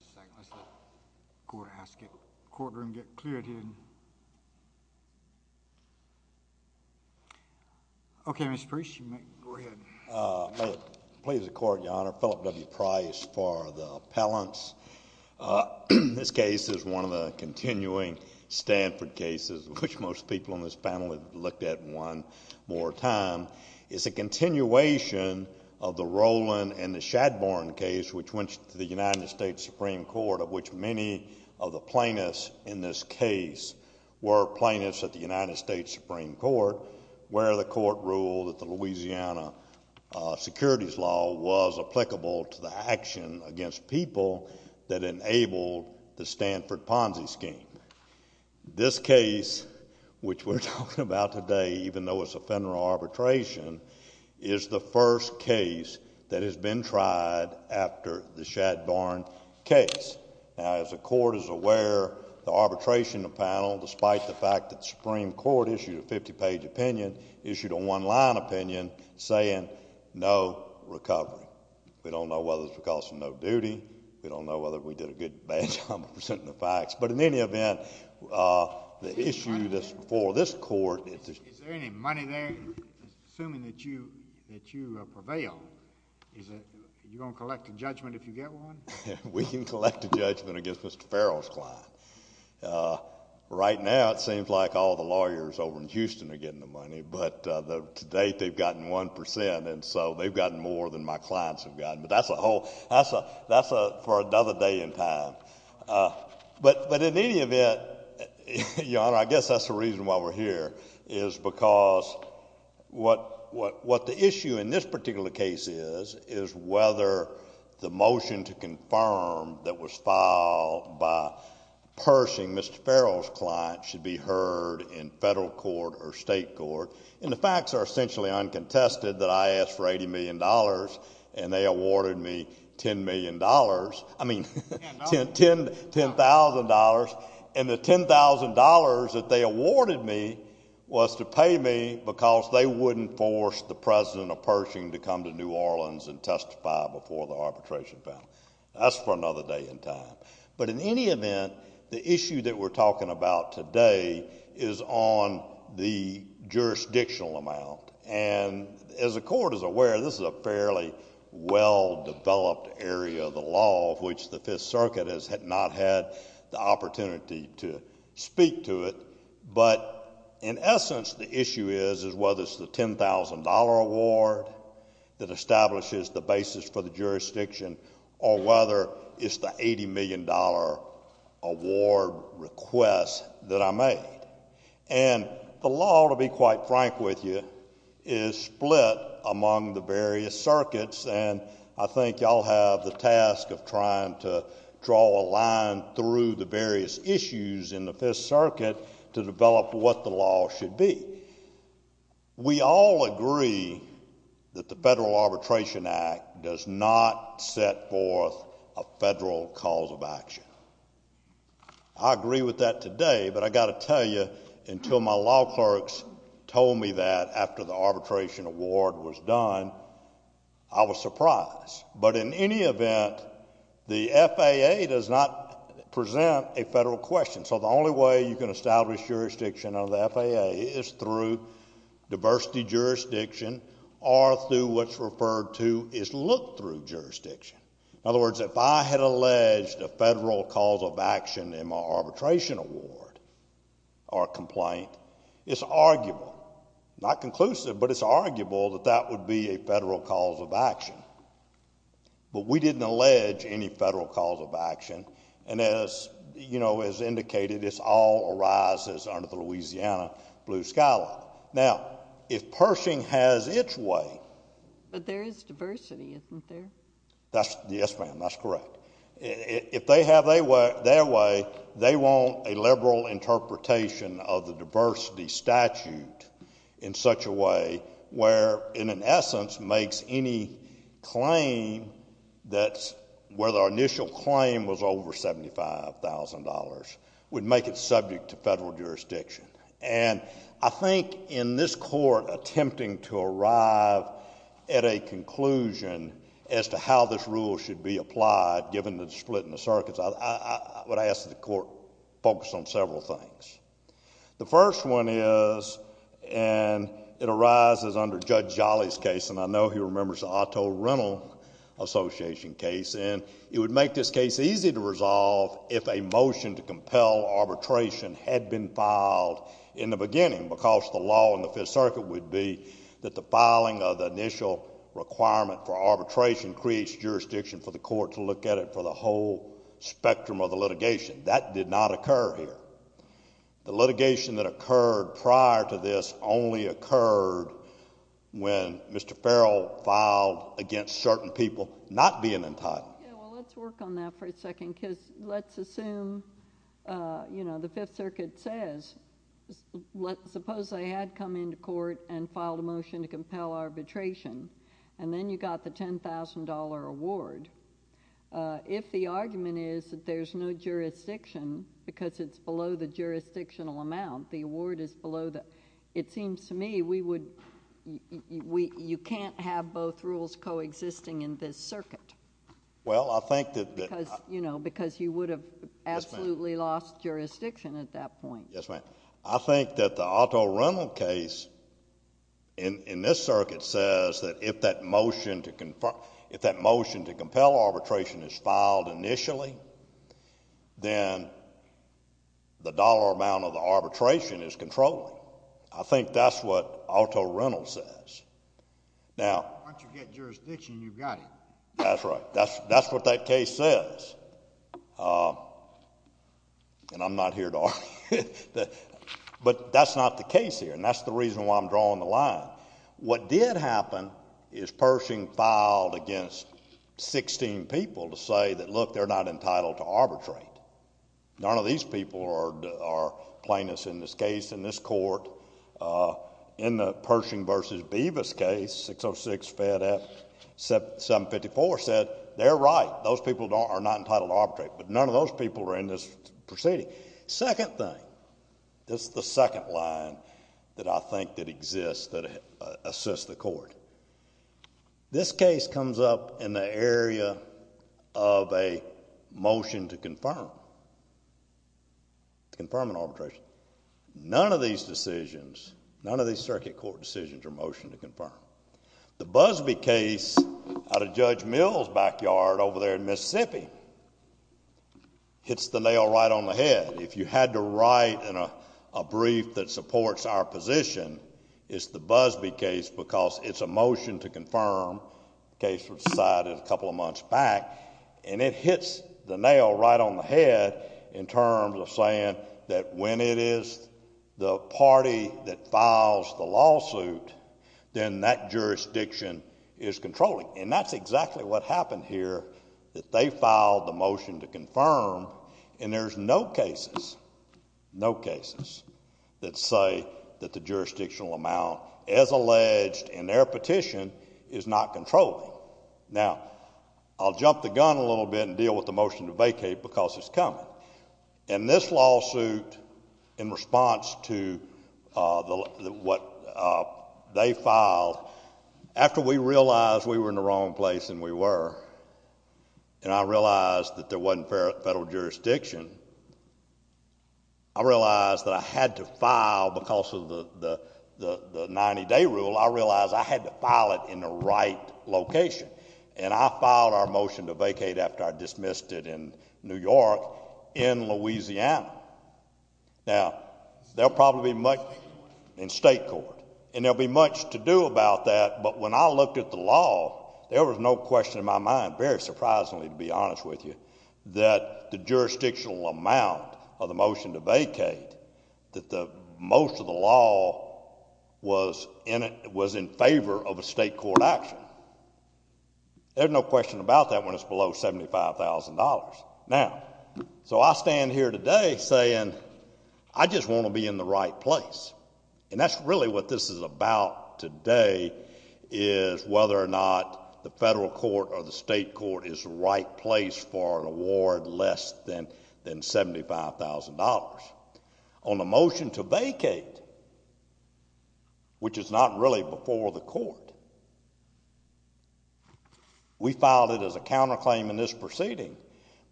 Let's let the courtroom get cleared here. Okay, Mr. Priest, you may go ahead. I plead the court, Your Honor. Philip W. Price for the appellants. This case is one of the continuing Stanford cases, which most people in this panel have looked at one more time. It's a continuation of the Roland and the Shadbourne case, which went to the United States Supreme Court, of which many of the plaintiffs in this case were plaintiffs at the United States Supreme Court, where the court ruled that the Louisiana securities law was applicable to the action against people that enabled the Stanford Ponzi scheme. This case, which we're talking about today, even though it's a federal arbitration, is the first case that has been tried after the Shadbourne case. Now, as the court is aware, the arbitration panel, despite the fact that the Supreme Court issued a 50-page opinion, issued a one-line opinion saying no recovery. We don't know whether it's because of no duty. We don't know whether we did a good, bad job of presenting the facts. But in any event, the issue for this court is— Is there any money there, assuming that you prevail? Are you going to collect a judgment if you get one? We can collect a judgment against Mr. Farrell's client. Right now, it seems like all the lawyers over in Houston are getting the money. But to date, they've gotten 1 percent, and so they've gotten more than my clients have gotten. But that's for another day in time. But in any event, Your Honor, I guess that's the reason why we're here, is because what the issue in this particular case is, is whether the motion to confirm that was filed by Pershing, Mr. Farrell's client, should be heard in federal court or state court. And the facts are essentially uncontested that I asked for $80 million, and they awarded me $10 million—I mean, $10,000. And the $10,000 that they awarded me was to pay me because they wouldn't force the president of Pershing to come to New Orleans and testify before the arbitration panel. That's for another day in time. But in any event, the issue that we're talking about today is on the jurisdictional amount. And as the court is aware, this is a fairly well-developed area of the law of which the Fifth Circuit has not had the opportunity to speak to it. But in essence, the issue is whether it's the $10,000 award that establishes the basis for the jurisdiction or whether it's the $80 million award request that I made. And the law, to be quite frank with you, is split among the various circuits, and I think you all have the task of trying to draw a line through the various issues in the Fifth Circuit to develop what the law should be. We all agree that the Federal Arbitration Act does not set forth a federal cause of action. I agree with that today, but I've got to tell you, until my law clerks told me that after the arbitration award was done, I was surprised. But in any event, the FAA does not present a federal question. So the only way you can establish jurisdiction under the FAA is through diversity jurisdiction or through what's referred to as look-through jurisdiction. In other words, if I had alleged a federal cause of action in my arbitration award or complaint, it's arguable, not conclusive, but it's arguable that that would be a federal cause of action. But we didn't allege any federal cause of action, and as indicated, this all arises under the Louisiana Blue Sky Law. Now, if Pershing has its way— But there is diversity, isn't there? Yes, ma'am, that's correct. If they have their way, they want a liberal interpretation of the diversity statute in such a way where, in essence, makes any claim that's— whether our initial claim was over $75,000, would make it subject to federal jurisdiction. And I think in this court attempting to arrive at a conclusion as to how this rule should be applied, given the split in the circuits, I would ask that the court focus on several things. The first one is, and it arises under Judge Jolly's case, and I know he remembers the Otto Rental Association case, it would make this case easy to resolve if a motion to compel arbitration had been filed in the beginning because the law in the Fifth Circuit would be that the filing of the initial requirement for arbitration creates jurisdiction for the court to look at it for the whole spectrum of the litigation. That did not occur here. The litigation that occurred prior to this only occurred when Mr. Farrell filed against certain people not being entitled. Yeah, well, let's work on that for a second because let's assume, you know, the Fifth Circuit says, suppose they had come into court and filed a motion to compel arbitration, and then you got the $10,000 award. If the argument is that there's no jurisdiction because it's below the jurisdictional amount, the award is below the... it seems to me we would... you can't have both rules coexisting in this circuit. Well, I think that... Because, you know, because you would have absolutely lost jurisdiction at that point. Yes, ma'am. I think that the Otto Rental case in this circuit says that if that motion to... if that motion to compel arbitration is filed initially, then the dollar amount of the arbitration is controlling. I think that's what Otto Rental says. Now... Once you get jurisdiction, you've got it. That's right. That's what that case says. And I'm not here to argue. But that's not the case here, and that's the reason why I'm drawing the line. What did happen is Pershing filed against 16 people to say that, look, they're not entitled to arbitrate. None of these people are plaintiffs in this case, in this court. In the Pershing v. Bevis case, 606 fed at 754, said they're right. Those people are not entitled to arbitrate. But none of those people are in this proceeding. Second thing, this is the second line that I think that exists that assists the court. This case comes up in the area of a motion to confirm, to confirm an arbitration. None of these decisions, none of these circuit court decisions are motion to confirm. The Busbee case out of Judge Mill's backyard over there in Mississippi hits the nail right on the head. If you had to write a brief that supports our position, it's the Busbee case because it's a motion to confirm, a case that was decided a couple of months back. And it hits the nail right on the head in terms of saying that when it is the party that files the lawsuit, then that jurisdiction is controlling. And that's exactly what happened here, that they filed the motion to confirm, and there's no cases, no cases, that say that the jurisdictional amount is alleged and their petition is not controlling. Now, I'll jump the gun a little bit and deal with the motion to vacate because it's coming. In this lawsuit, in response to what they filed, after we realized we were in the wrong place, and we were, and I realized that there wasn't federal jurisdiction, I realized that I had to file because of the 90-day rule, I realized I had to file it in the right location. And I filed our motion to vacate after I dismissed it in New York, in Louisiana. Now, there'll probably be much in state court, and there'll be much to do about that, but when I looked at the law, there was no question in my mind, very surprisingly to be honest with you, that the jurisdictional amount of the motion to vacate, that most of the law was in favor of a state court action. There's no question about that when it's below $75,000. Now, so I stand here today saying, I just want to be in the right place. And that's really what this is about today, is whether or not the federal court or the state court is the right place for an award less than $75,000. On the motion to vacate, which is not really before the court, we filed it as a counterclaim in this proceeding,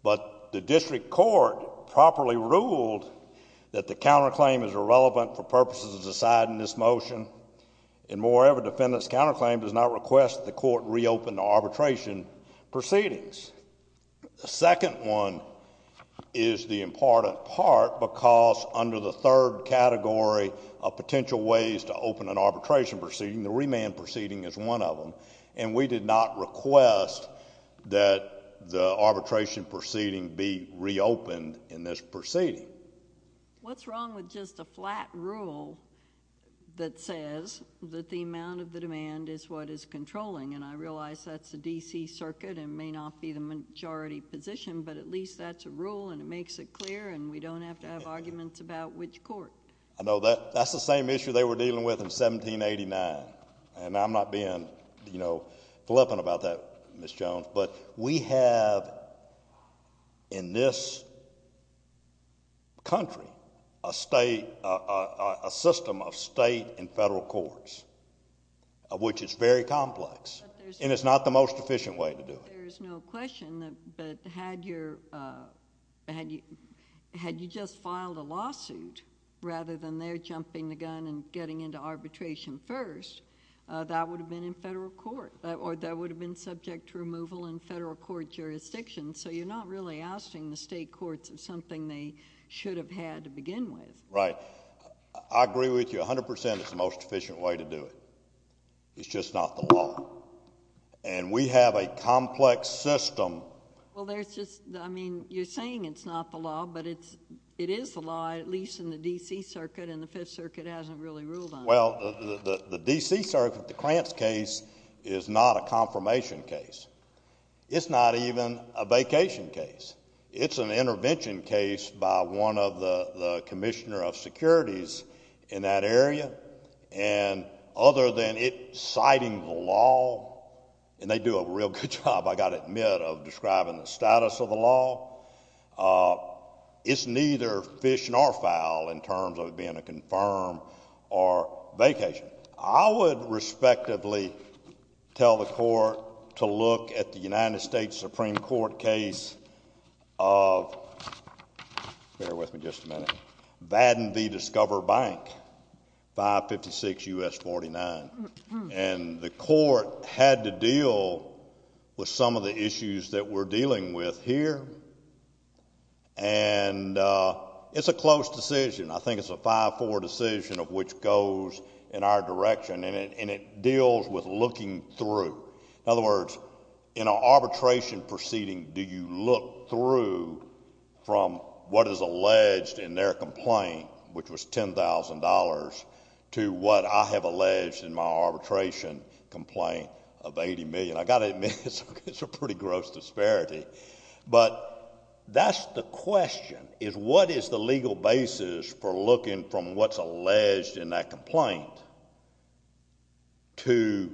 but the district court properly ruled that the counterclaim is irrelevant for purposes aside in this motion, and moreover, defendant's counterclaim does not request that the court reopen the arbitration proceedings. The second one is the important part, because under the third category of potential ways to open an arbitration proceeding, the remand proceeding is one of them, and we did not request that the arbitration proceeding be reopened in this proceeding. What's wrong with just a flat rule that says that the amount of the demand is what is controlling, and I realize that's the D.C. Circuit and may not be the majority position, but at least that's a rule and it makes it clear and we don't have to have arguments about which court. I know that's the same issue they were dealing with in 1789, and I'm not being flippant about that, Ms. Jones, but we have in this country a system of state and federal courts, which is very complex, and it's not the most efficient way to do it. There's no question, but had you just filed a lawsuit, rather than their jumping the gun and getting into arbitration first, that would have been in federal court, or that would have been subject to removal in federal court jurisdictions, so you're not really ousting the state courts of something they should have had to begin with. Right. I agree with you 100%. It's the most efficient way to do it. It's just not the law, and we have a complex system. Well, there's just, I mean, you're saying it's not the law, but it is the law, at least in the D.C. Circuit, and the Fifth Circuit hasn't really ruled on it. Well, the D.C. Circuit, the Krantz case, is not a confirmation case. It's not even a vacation case. It's an intervention case by one of the commissioner of securities in that area, and other than it citing the law, and they do a real good job, I've got to admit, of describing the status of the law, it's neither fish nor fowl in terms of it being a confirm or vacation. I would respectively tell the court to look at the United States Supreme Court case of, bear with me just a minute, Vadden v. Discover Bank, 556 U.S. 49, and the court had to deal with some of the issues that we're dealing with here, and it's a close decision. I think it's a 5-4 decision of which goes in our direction, and it deals with looking through. In other words, in an arbitration proceeding, do you look through from what is alleged in their complaint, which was $10,000, to what I have alleged in my arbitration complaint of $80 million? I've got to admit, it's a pretty gross disparity, but that's the question, is what is the legal basis for looking from what's alleged in that complaint to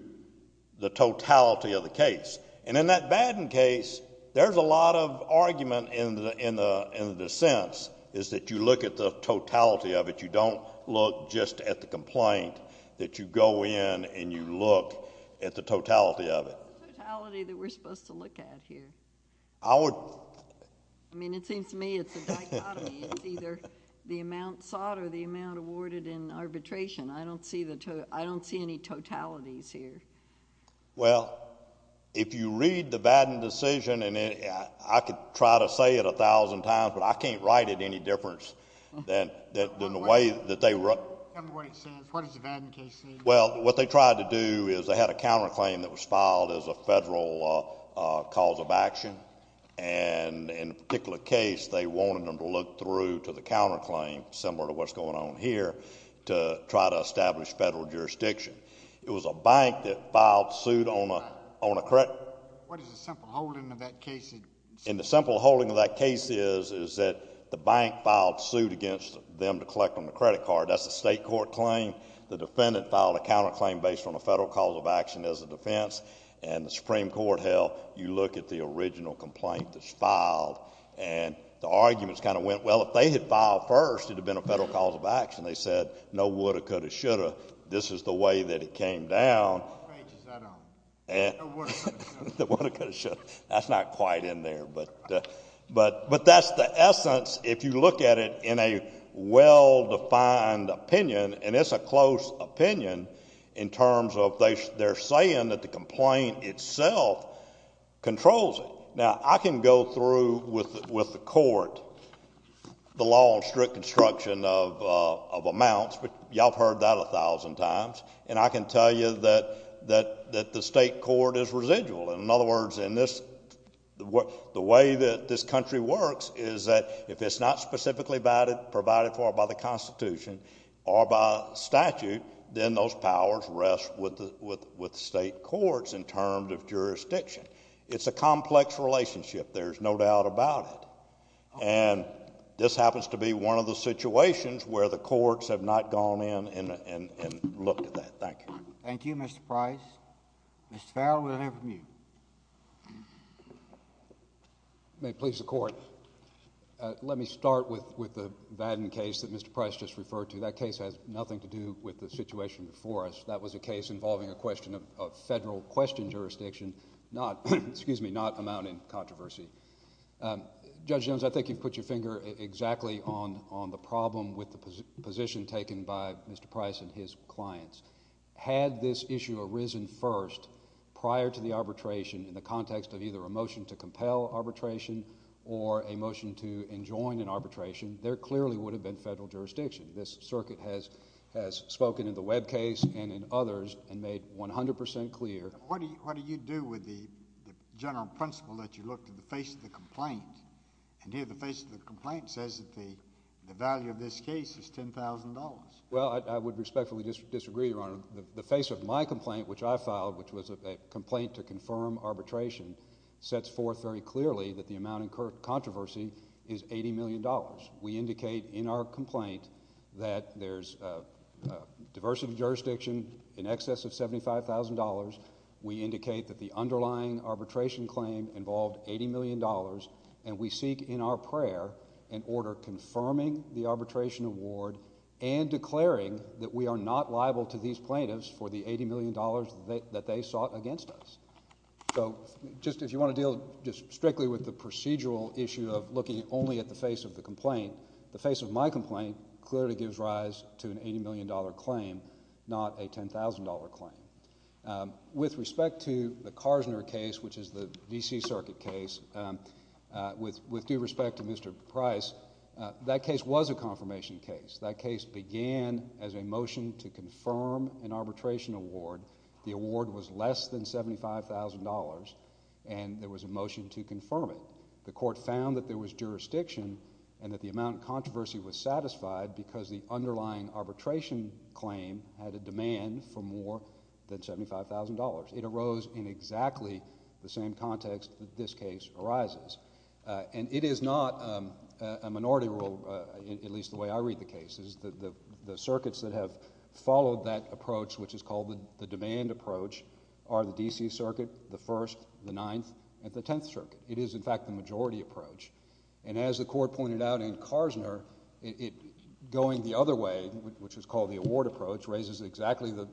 the totality of the case? And in that Vadden case, there's a lot of argument in the sense is that you look at the totality of it. You don't look just at the complaint, that you go in and you look at the totality of it. What's the totality that we're supposed to look at here? I would— I mean, it seems to me it's a dichotomy. It's either the amount sought or the amount awarded in arbitration. I don't see any totalities here. Well, if you read the Vadden decision, and I could try to say it a thousand times, but I can't write it any different than the way that they— Tell me what it says. What does the Vadden case say? Well, what they tried to do is they had a counterclaim that was filed as a federal cause of action, and in a particular case, they wanted them to look through to the counterclaim, similar to what's going on here, to try to establish federal jurisdiction. It was a bank that filed suit on a— What is the simple holding of that case? And the simple holding of that case is that the bank filed suit against them to collect on the credit card. That's a state court claim. The defendant filed a counterclaim based on a federal cause of action as a defense, and the Supreme Court held, you look at the original complaint that's filed, and the arguments kind of went, well, if they had filed first, it would have been a federal cause of action. They said no woulda, coulda, shoulda. This is the way that it came down. Which page is that on? No woulda, coulda, shoulda. That's not quite in there, but that's the essence. If you look at it in a well-defined opinion, and it's a close opinion in terms of they're saying that the complaint itself controls it. Now, I can go through with the court the law on strict construction of amounts. Y'all have heard that a thousand times. And I can tell you that the state court is residual. In other words, the way that this country works is that if it's not specifically provided for by the Constitution or by statute, then those powers rest with the state courts in terms of jurisdiction. It's a complex relationship. There's no doubt about it. And this happens to be one of the situations where the courts have not gone in and looked at that. Thank you. Thank you, Mr. Price. Mr. Farrell, we'll hear from you. May it please the Court, let me start with the Vadin case that Mr. Price just referred to. That case has nothing to do with the situation before us. That was a case involving a question of federal question jurisdiction, not amounting controversy. Judge Jones, I think you've put your finger exactly on the problem with the position taken by Mr. Price and his clients. Had this issue arisen first prior to the arbitration in the context of either a motion to compel arbitration or a motion to enjoin an arbitration, there clearly would have been federal jurisdiction. This circuit has spoken in the Webb case and in others and made 100 percent clear. What do you do with the general principle that you look to the face of the complaint? And here the face of the complaint says that the value of this case is $10,000. Well, I would respectfully disagree, Your Honor. The face of my complaint, which I filed, which was a complaint to confirm arbitration, sets forth very clearly that the amount of controversy is $80 million. We indicate in our complaint that there's diversity of jurisdiction in excess of $75,000. We indicate that the underlying arbitration claim involved $80 million, and we seek in our prayer an order confirming the arbitration award and declaring that we are not liable to these plaintiffs for the $80 million that they sought against us. So just if you want to deal just strictly with the procedural issue of looking only at the face of the complaint, the face of my complaint clearly gives rise to an $80 million claim, not a $10,000 claim. With respect to the Karsner case, which is the D.C. Circuit case, with due respect to Mr. Price, that case was a confirmation case. That case began as a motion to confirm an arbitration award. The award was less than $75,000, and there was a motion to confirm it. The court found that there was jurisdiction and that the amount of controversy was satisfied because the underlying arbitration claim had a demand for more than $75,000. It arose in exactly the same context that this case arises. And it is not a minority rule, at least the way I read the cases. The circuits that have followed that approach, which is called the demand approach, are the D.C. Circuit, the First, the Ninth, and the Tenth Circuit. It is, in fact, the majority approach. And as the court pointed out in Karsner, going the other way, which is called the award approach, raises exactly the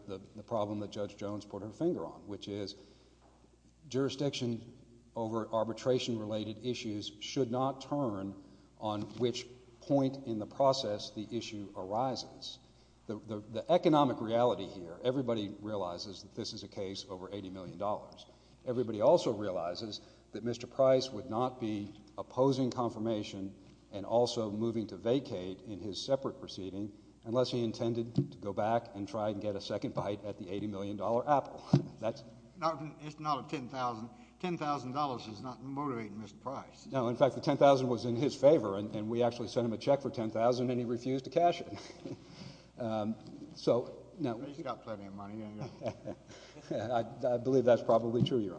problem that Judge Jones put her finger on, which is jurisdiction over arbitration-related issues should not turn on which point in the process the issue arises. The economic reality here, everybody realizes that this is a case over $80 million. Everybody also realizes that Mr. Price would not be opposing confirmation and also moving to vacate in his separate proceeding unless he intended to go back and try and get a second bite at the $80 million apple. It's not $10,000. $10,000 is not motivating Mr. Price. No, in fact, the $10,000 was in his favor, and we actually sent him a check for $10,000, and he refused to cash it. He's got plenty of money. I believe that's probably true, Your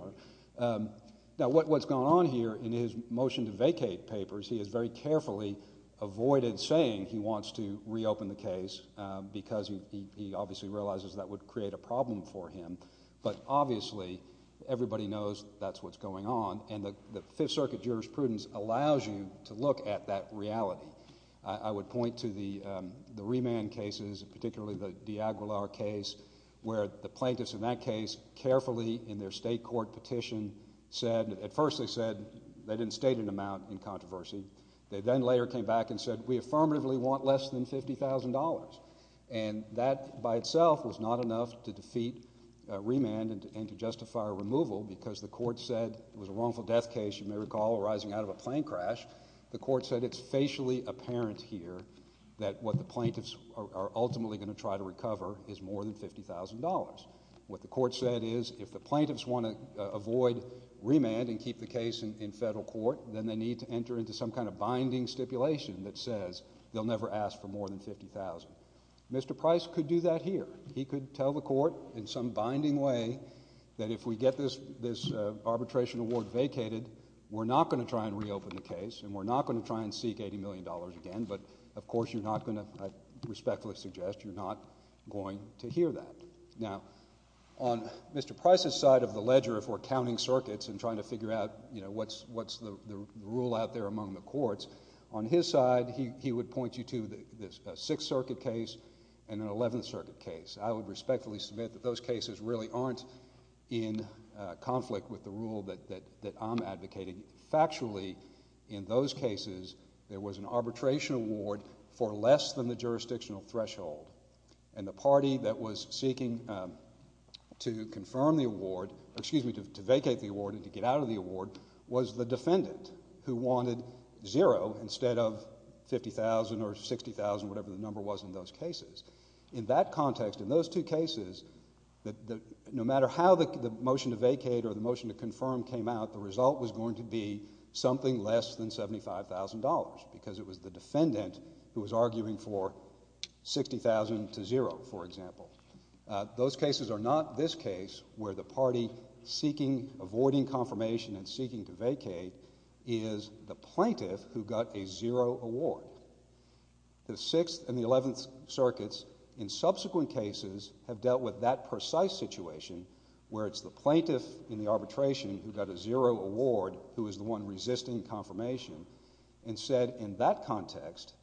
Honor. Now what's going on here in his motion to vacate papers, he has very carefully avoided saying he wants to reopen the case because he obviously realizes that would create a problem for him. But obviously everybody knows that's what's going on, and the Fifth Circuit jurisprudence allows you to look at that reality. I would point to the remand cases, particularly the de Aguilar case, where the plaintiffs in that case carefully in their state court petition said, at first they said they didn't state an amount in controversy. They then later came back and said we affirmatively want less than $50,000, and that by itself was not enough to defeat remand and to justify a removal because the court said it was a wrongful death case, you may recall, arising out of a plane crash. The court said it's facially apparent here that what the plaintiffs are ultimately going to try to recover is more than $50,000. What the court said is if the plaintiffs want to avoid remand and keep the case in federal court, then they need to enter into some kind of binding stipulation that says they'll never ask for more than $50,000. Mr. Price could do that here. He could tell the court in some binding way that if we get this arbitration award vacated, we're not going to try and reopen the case and we're not going to try and seek $80 million again, but of course you're not going to, I respectfully suggest, you're not going to hear that. Now, on Mr. Price's side of the ledger, if we're counting circuits and trying to figure out, you know, what's the rule out there among the courts, on his side he would point you to a Sixth Circuit case and an Eleventh Circuit case. I would respectfully submit that those cases really aren't in conflict with the rule that I'm advocating. Factually, in those cases, there was an arbitration award for less than the jurisdictional threshold and the party that was seeking to confirm the award, excuse me, to vacate the award and to get out of the award, was the defendant who wanted zero instead of $50,000 or $60,000, whatever the number was in those cases. In that context, in those two cases, no matter how the motion to vacate or the motion to confirm came out, the result was going to be something less than $75,000 because it was the defendant who was arguing for $60,000 to zero, for example. Those cases are not this case where the party seeking, avoiding confirmation and seeking to vacate is the plaintiff who got a zero award. The Sixth and the Eleventh Circuits in subsequent cases have dealt with that precise situation where it's the plaintiff in the arbitration who got a zero award who is the one resisting confirmation and said in that context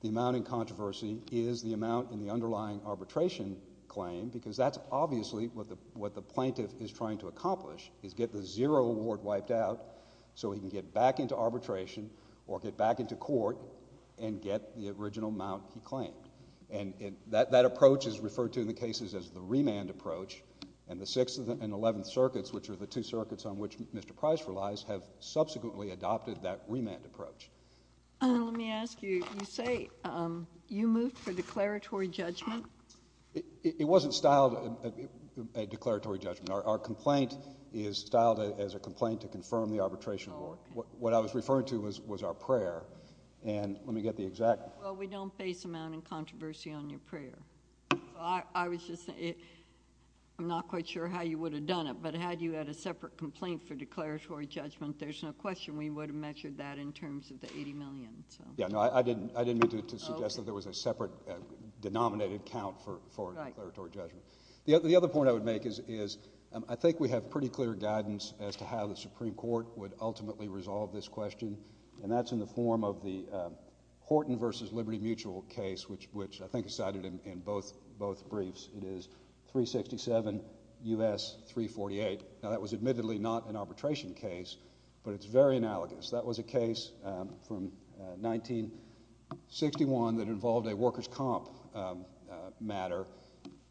the amount in controversy is the amount in the underlying arbitration claim because that's obviously what the plaintiff is trying to accomplish is get the zero award wiped out so he can get back into arbitration or get back into court and get the original amount he claimed. That approach is referred to in the cases as the remand approach, and the Sixth and Eleventh Circuits, which are the two circuits on which Mr. Price relies, have subsequently adopted that remand approach. Let me ask you, you say you moved for declaratory judgment? It wasn't styled a declaratory judgment. Our complaint is styled as a complaint to confirm the arbitration award. What I was referring to was our prayer, and let me get the exact. Well, we don't base amount in controversy on your prayer. I'm not quite sure how you would have done it, but had you had a separate complaint for declaratory judgment, there's no question we would have measured that in terms of the $80 million. I didn't mean to suggest that there was a separate denominated count for declaratory judgment. The other point I would make is I think we have pretty clear guidance as to how the Supreme Court would ultimately resolve this question, and that's in the form of the Horton v. Liberty Mutual case, which I think is cited in both briefs. It is 367 U.S. 348. Now that was admittedly not an arbitration case, but it's very analogous. That was a case from 1961 that involved a workers' comp matter,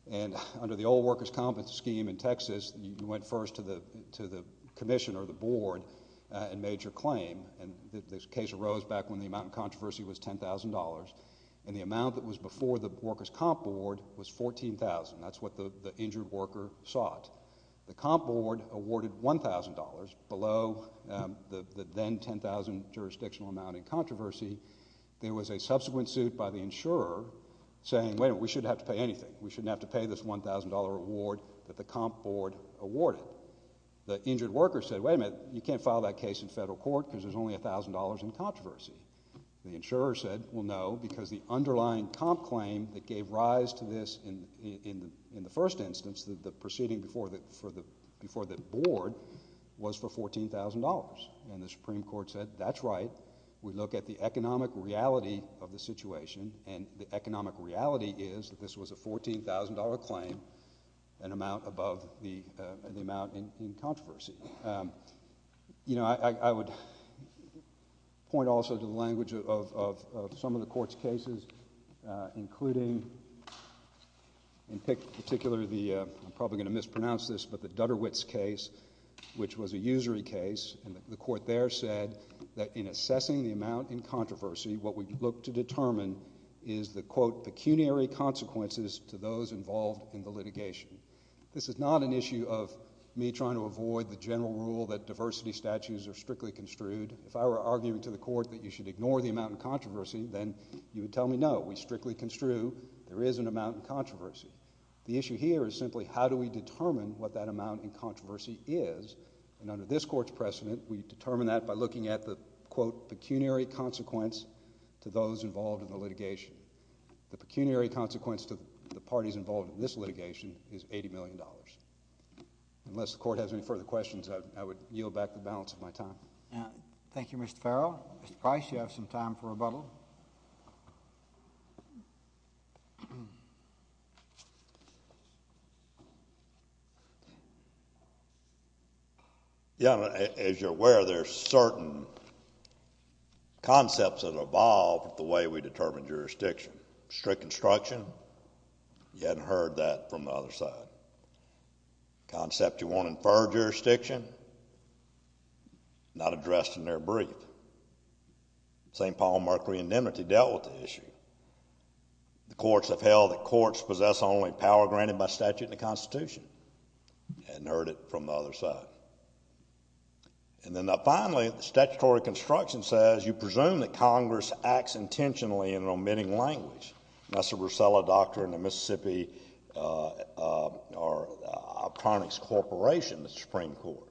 and under the old workers' comp scheme in Texas, you went first to the commission or the board and made your claim, and the case arose back when the amount in controversy was $10,000, and the amount that was before the workers' comp award was $14,000. That's what the injured worker sought. The comp board awarded $1,000 below the then $10,000 jurisdictional amount in controversy. There was a subsequent suit by the insurer saying, wait a minute, we shouldn't have to pay anything. We shouldn't have to pay this $1,000 award that the comp board awarded. The injured worker said, wait a minute, you can't file that case in federal court because there's only $1,000 in controversy. The insurer said, well, no, because the underlying comp claim that gave rise to this in the first instance, the proceeding before the board, was for $14,000, and the Supreme Court said, that's right. We look at the economic reality of the situation, and the economic reality is that this was a $14,000 claim, an amount above the amount in controversy. I would point also to the language of some of the court's cases, including, in particular, I'm probably going to mispronounce this, but the Dutterwitz case, which was a usury case, and the court there said that in assessing the amount in controversy, what we look to determine is the, quote, pecuniary consequences to those involved in the litigation. This is not an issue of me trying to avoid the general rule that diversity statutes are strictly construed. If I were arguing to the court that you should ignore the amount in controversy, then you would tell me, no, we strictly construe there is an amount in controversy. The issue here is simply how do we determine what that amount in controversy is, and under this court's precedent, we determine that by looking at the, quote, pecuniary consequence to those involved in the litigation. The pecuniary consequence to the parties involved in this litigation is $80 million. Unless the court has any further questions, I would yield back the balance of my time. Thank you, Mr. Farrell. Mr. Price, you have some time for rebuttal. Yeah, as you're aware, there are certain concepts that have evolved with the way we determine jurisdiction. Strict construction, you hadn't heard that from the other side. Concept you want to infer jurisdiction, not addressed in their brief. St. Paul Markley and Nimitz, you haven't heard that from the other side. The courts have held that courts possess only power granted by statute and the Constitution. You hadn't heard it from the other side. And then finally, statutory construction says you presume that Congress acts intentionally in an omitting language. That's the Brucella Doctrine of Mississippi Obtronics Corporation, the Supreme Court.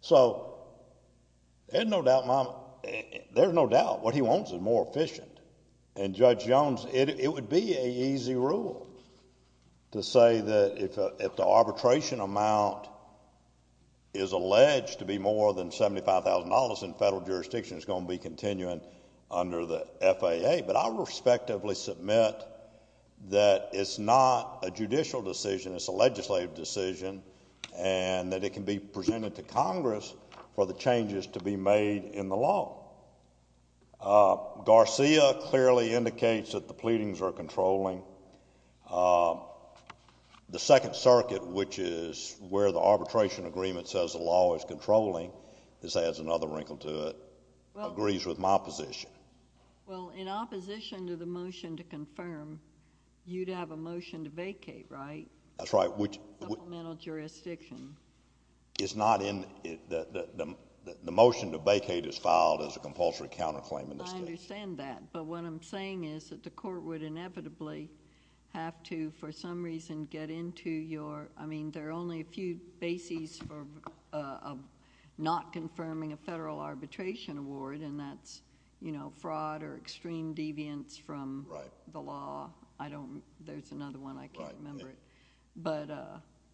So there's no doubt what he wants is more efficient. And Judge Jones, it would be an easy rule to say that if the arbitration amount is alleged to be more than $75,000, then federal jurisdiction is going to be continuing under the FAA. But I'll respectively submit that it's not a judicial decision, it's a legislative decision, and that it can be presented to Congress for the changes to be made in the law. Garcia clearly indicates that the pleadings are controlling. The Second Circuit, which is where the arbitration agreement says the law is controlling, this adds another wrinkle to it, agrees with my position. Well, in opposition to the motion to confirm, you'd have a motion to vacate, right? That's right. Supplemental jurisdiction. The motion to vacate is filed as a compulsory counterclaim in this case. I understand that. But what I'm saying is that the court would inevitably have to, for some reason, get into your— I mean, there are only a few bases for not confirming a federal arbitration award, and that's fraud or extreme deviance from the law. There's another one. I can't remember it. But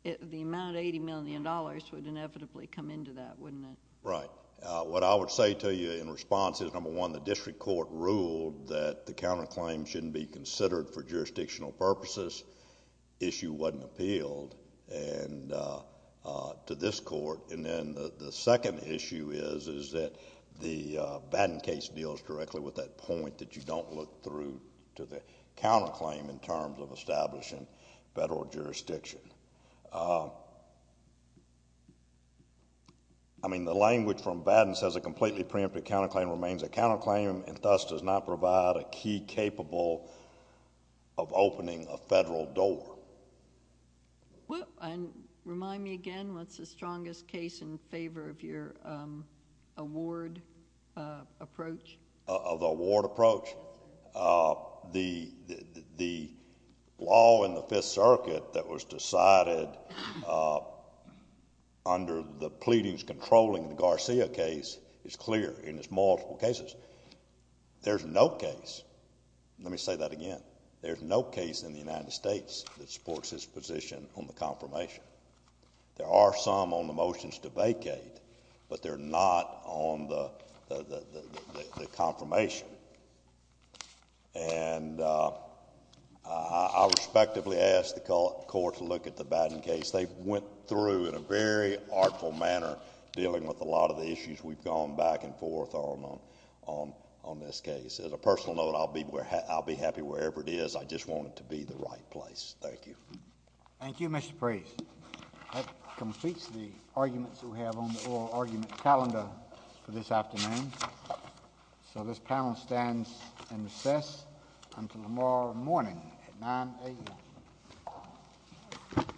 the amount of $80 million would inevitably come into that, wouldn't it? Right. What I would say to you in response is, number one, the district court ruled that the counterclaim shouldn't be considered for jurisdictional purposes. Issue wasn't appealed to this court. And then the second issue is that the Batten case deals directly with that point that you don't look through to the counterclaim in terms of establishing federal jurisdiction. I mean, the language from Batten says a completely preemptive counterclaim remains a counterclaim and thus does not provide a key capable of opening a federal door. Well, and remind me again, what's the strongest case in favor of your award approach? The law in the Fifth Circuit that was decided under the pleadings controlling the Garcia case is clear in its multiple cases. There's no case—let me say that again— there's no case in the United States that supports this position on the confirmation. There are some on the motions to vacate, but they're not on the confirmation. And I respectfully ask the court to look at the Batten case. They went through in a very artful manner dealing with a lot of the issues. We've gone back and forth on this case. As a personal note, I'll be happy wherever it is. I just want it to be the right place. Thank you. Thank you, Mr. Price. That completes the arguments we have on the oral argument calendar for this afternoon. So this panel stands in recess until tomorrow morning at 9 a.m.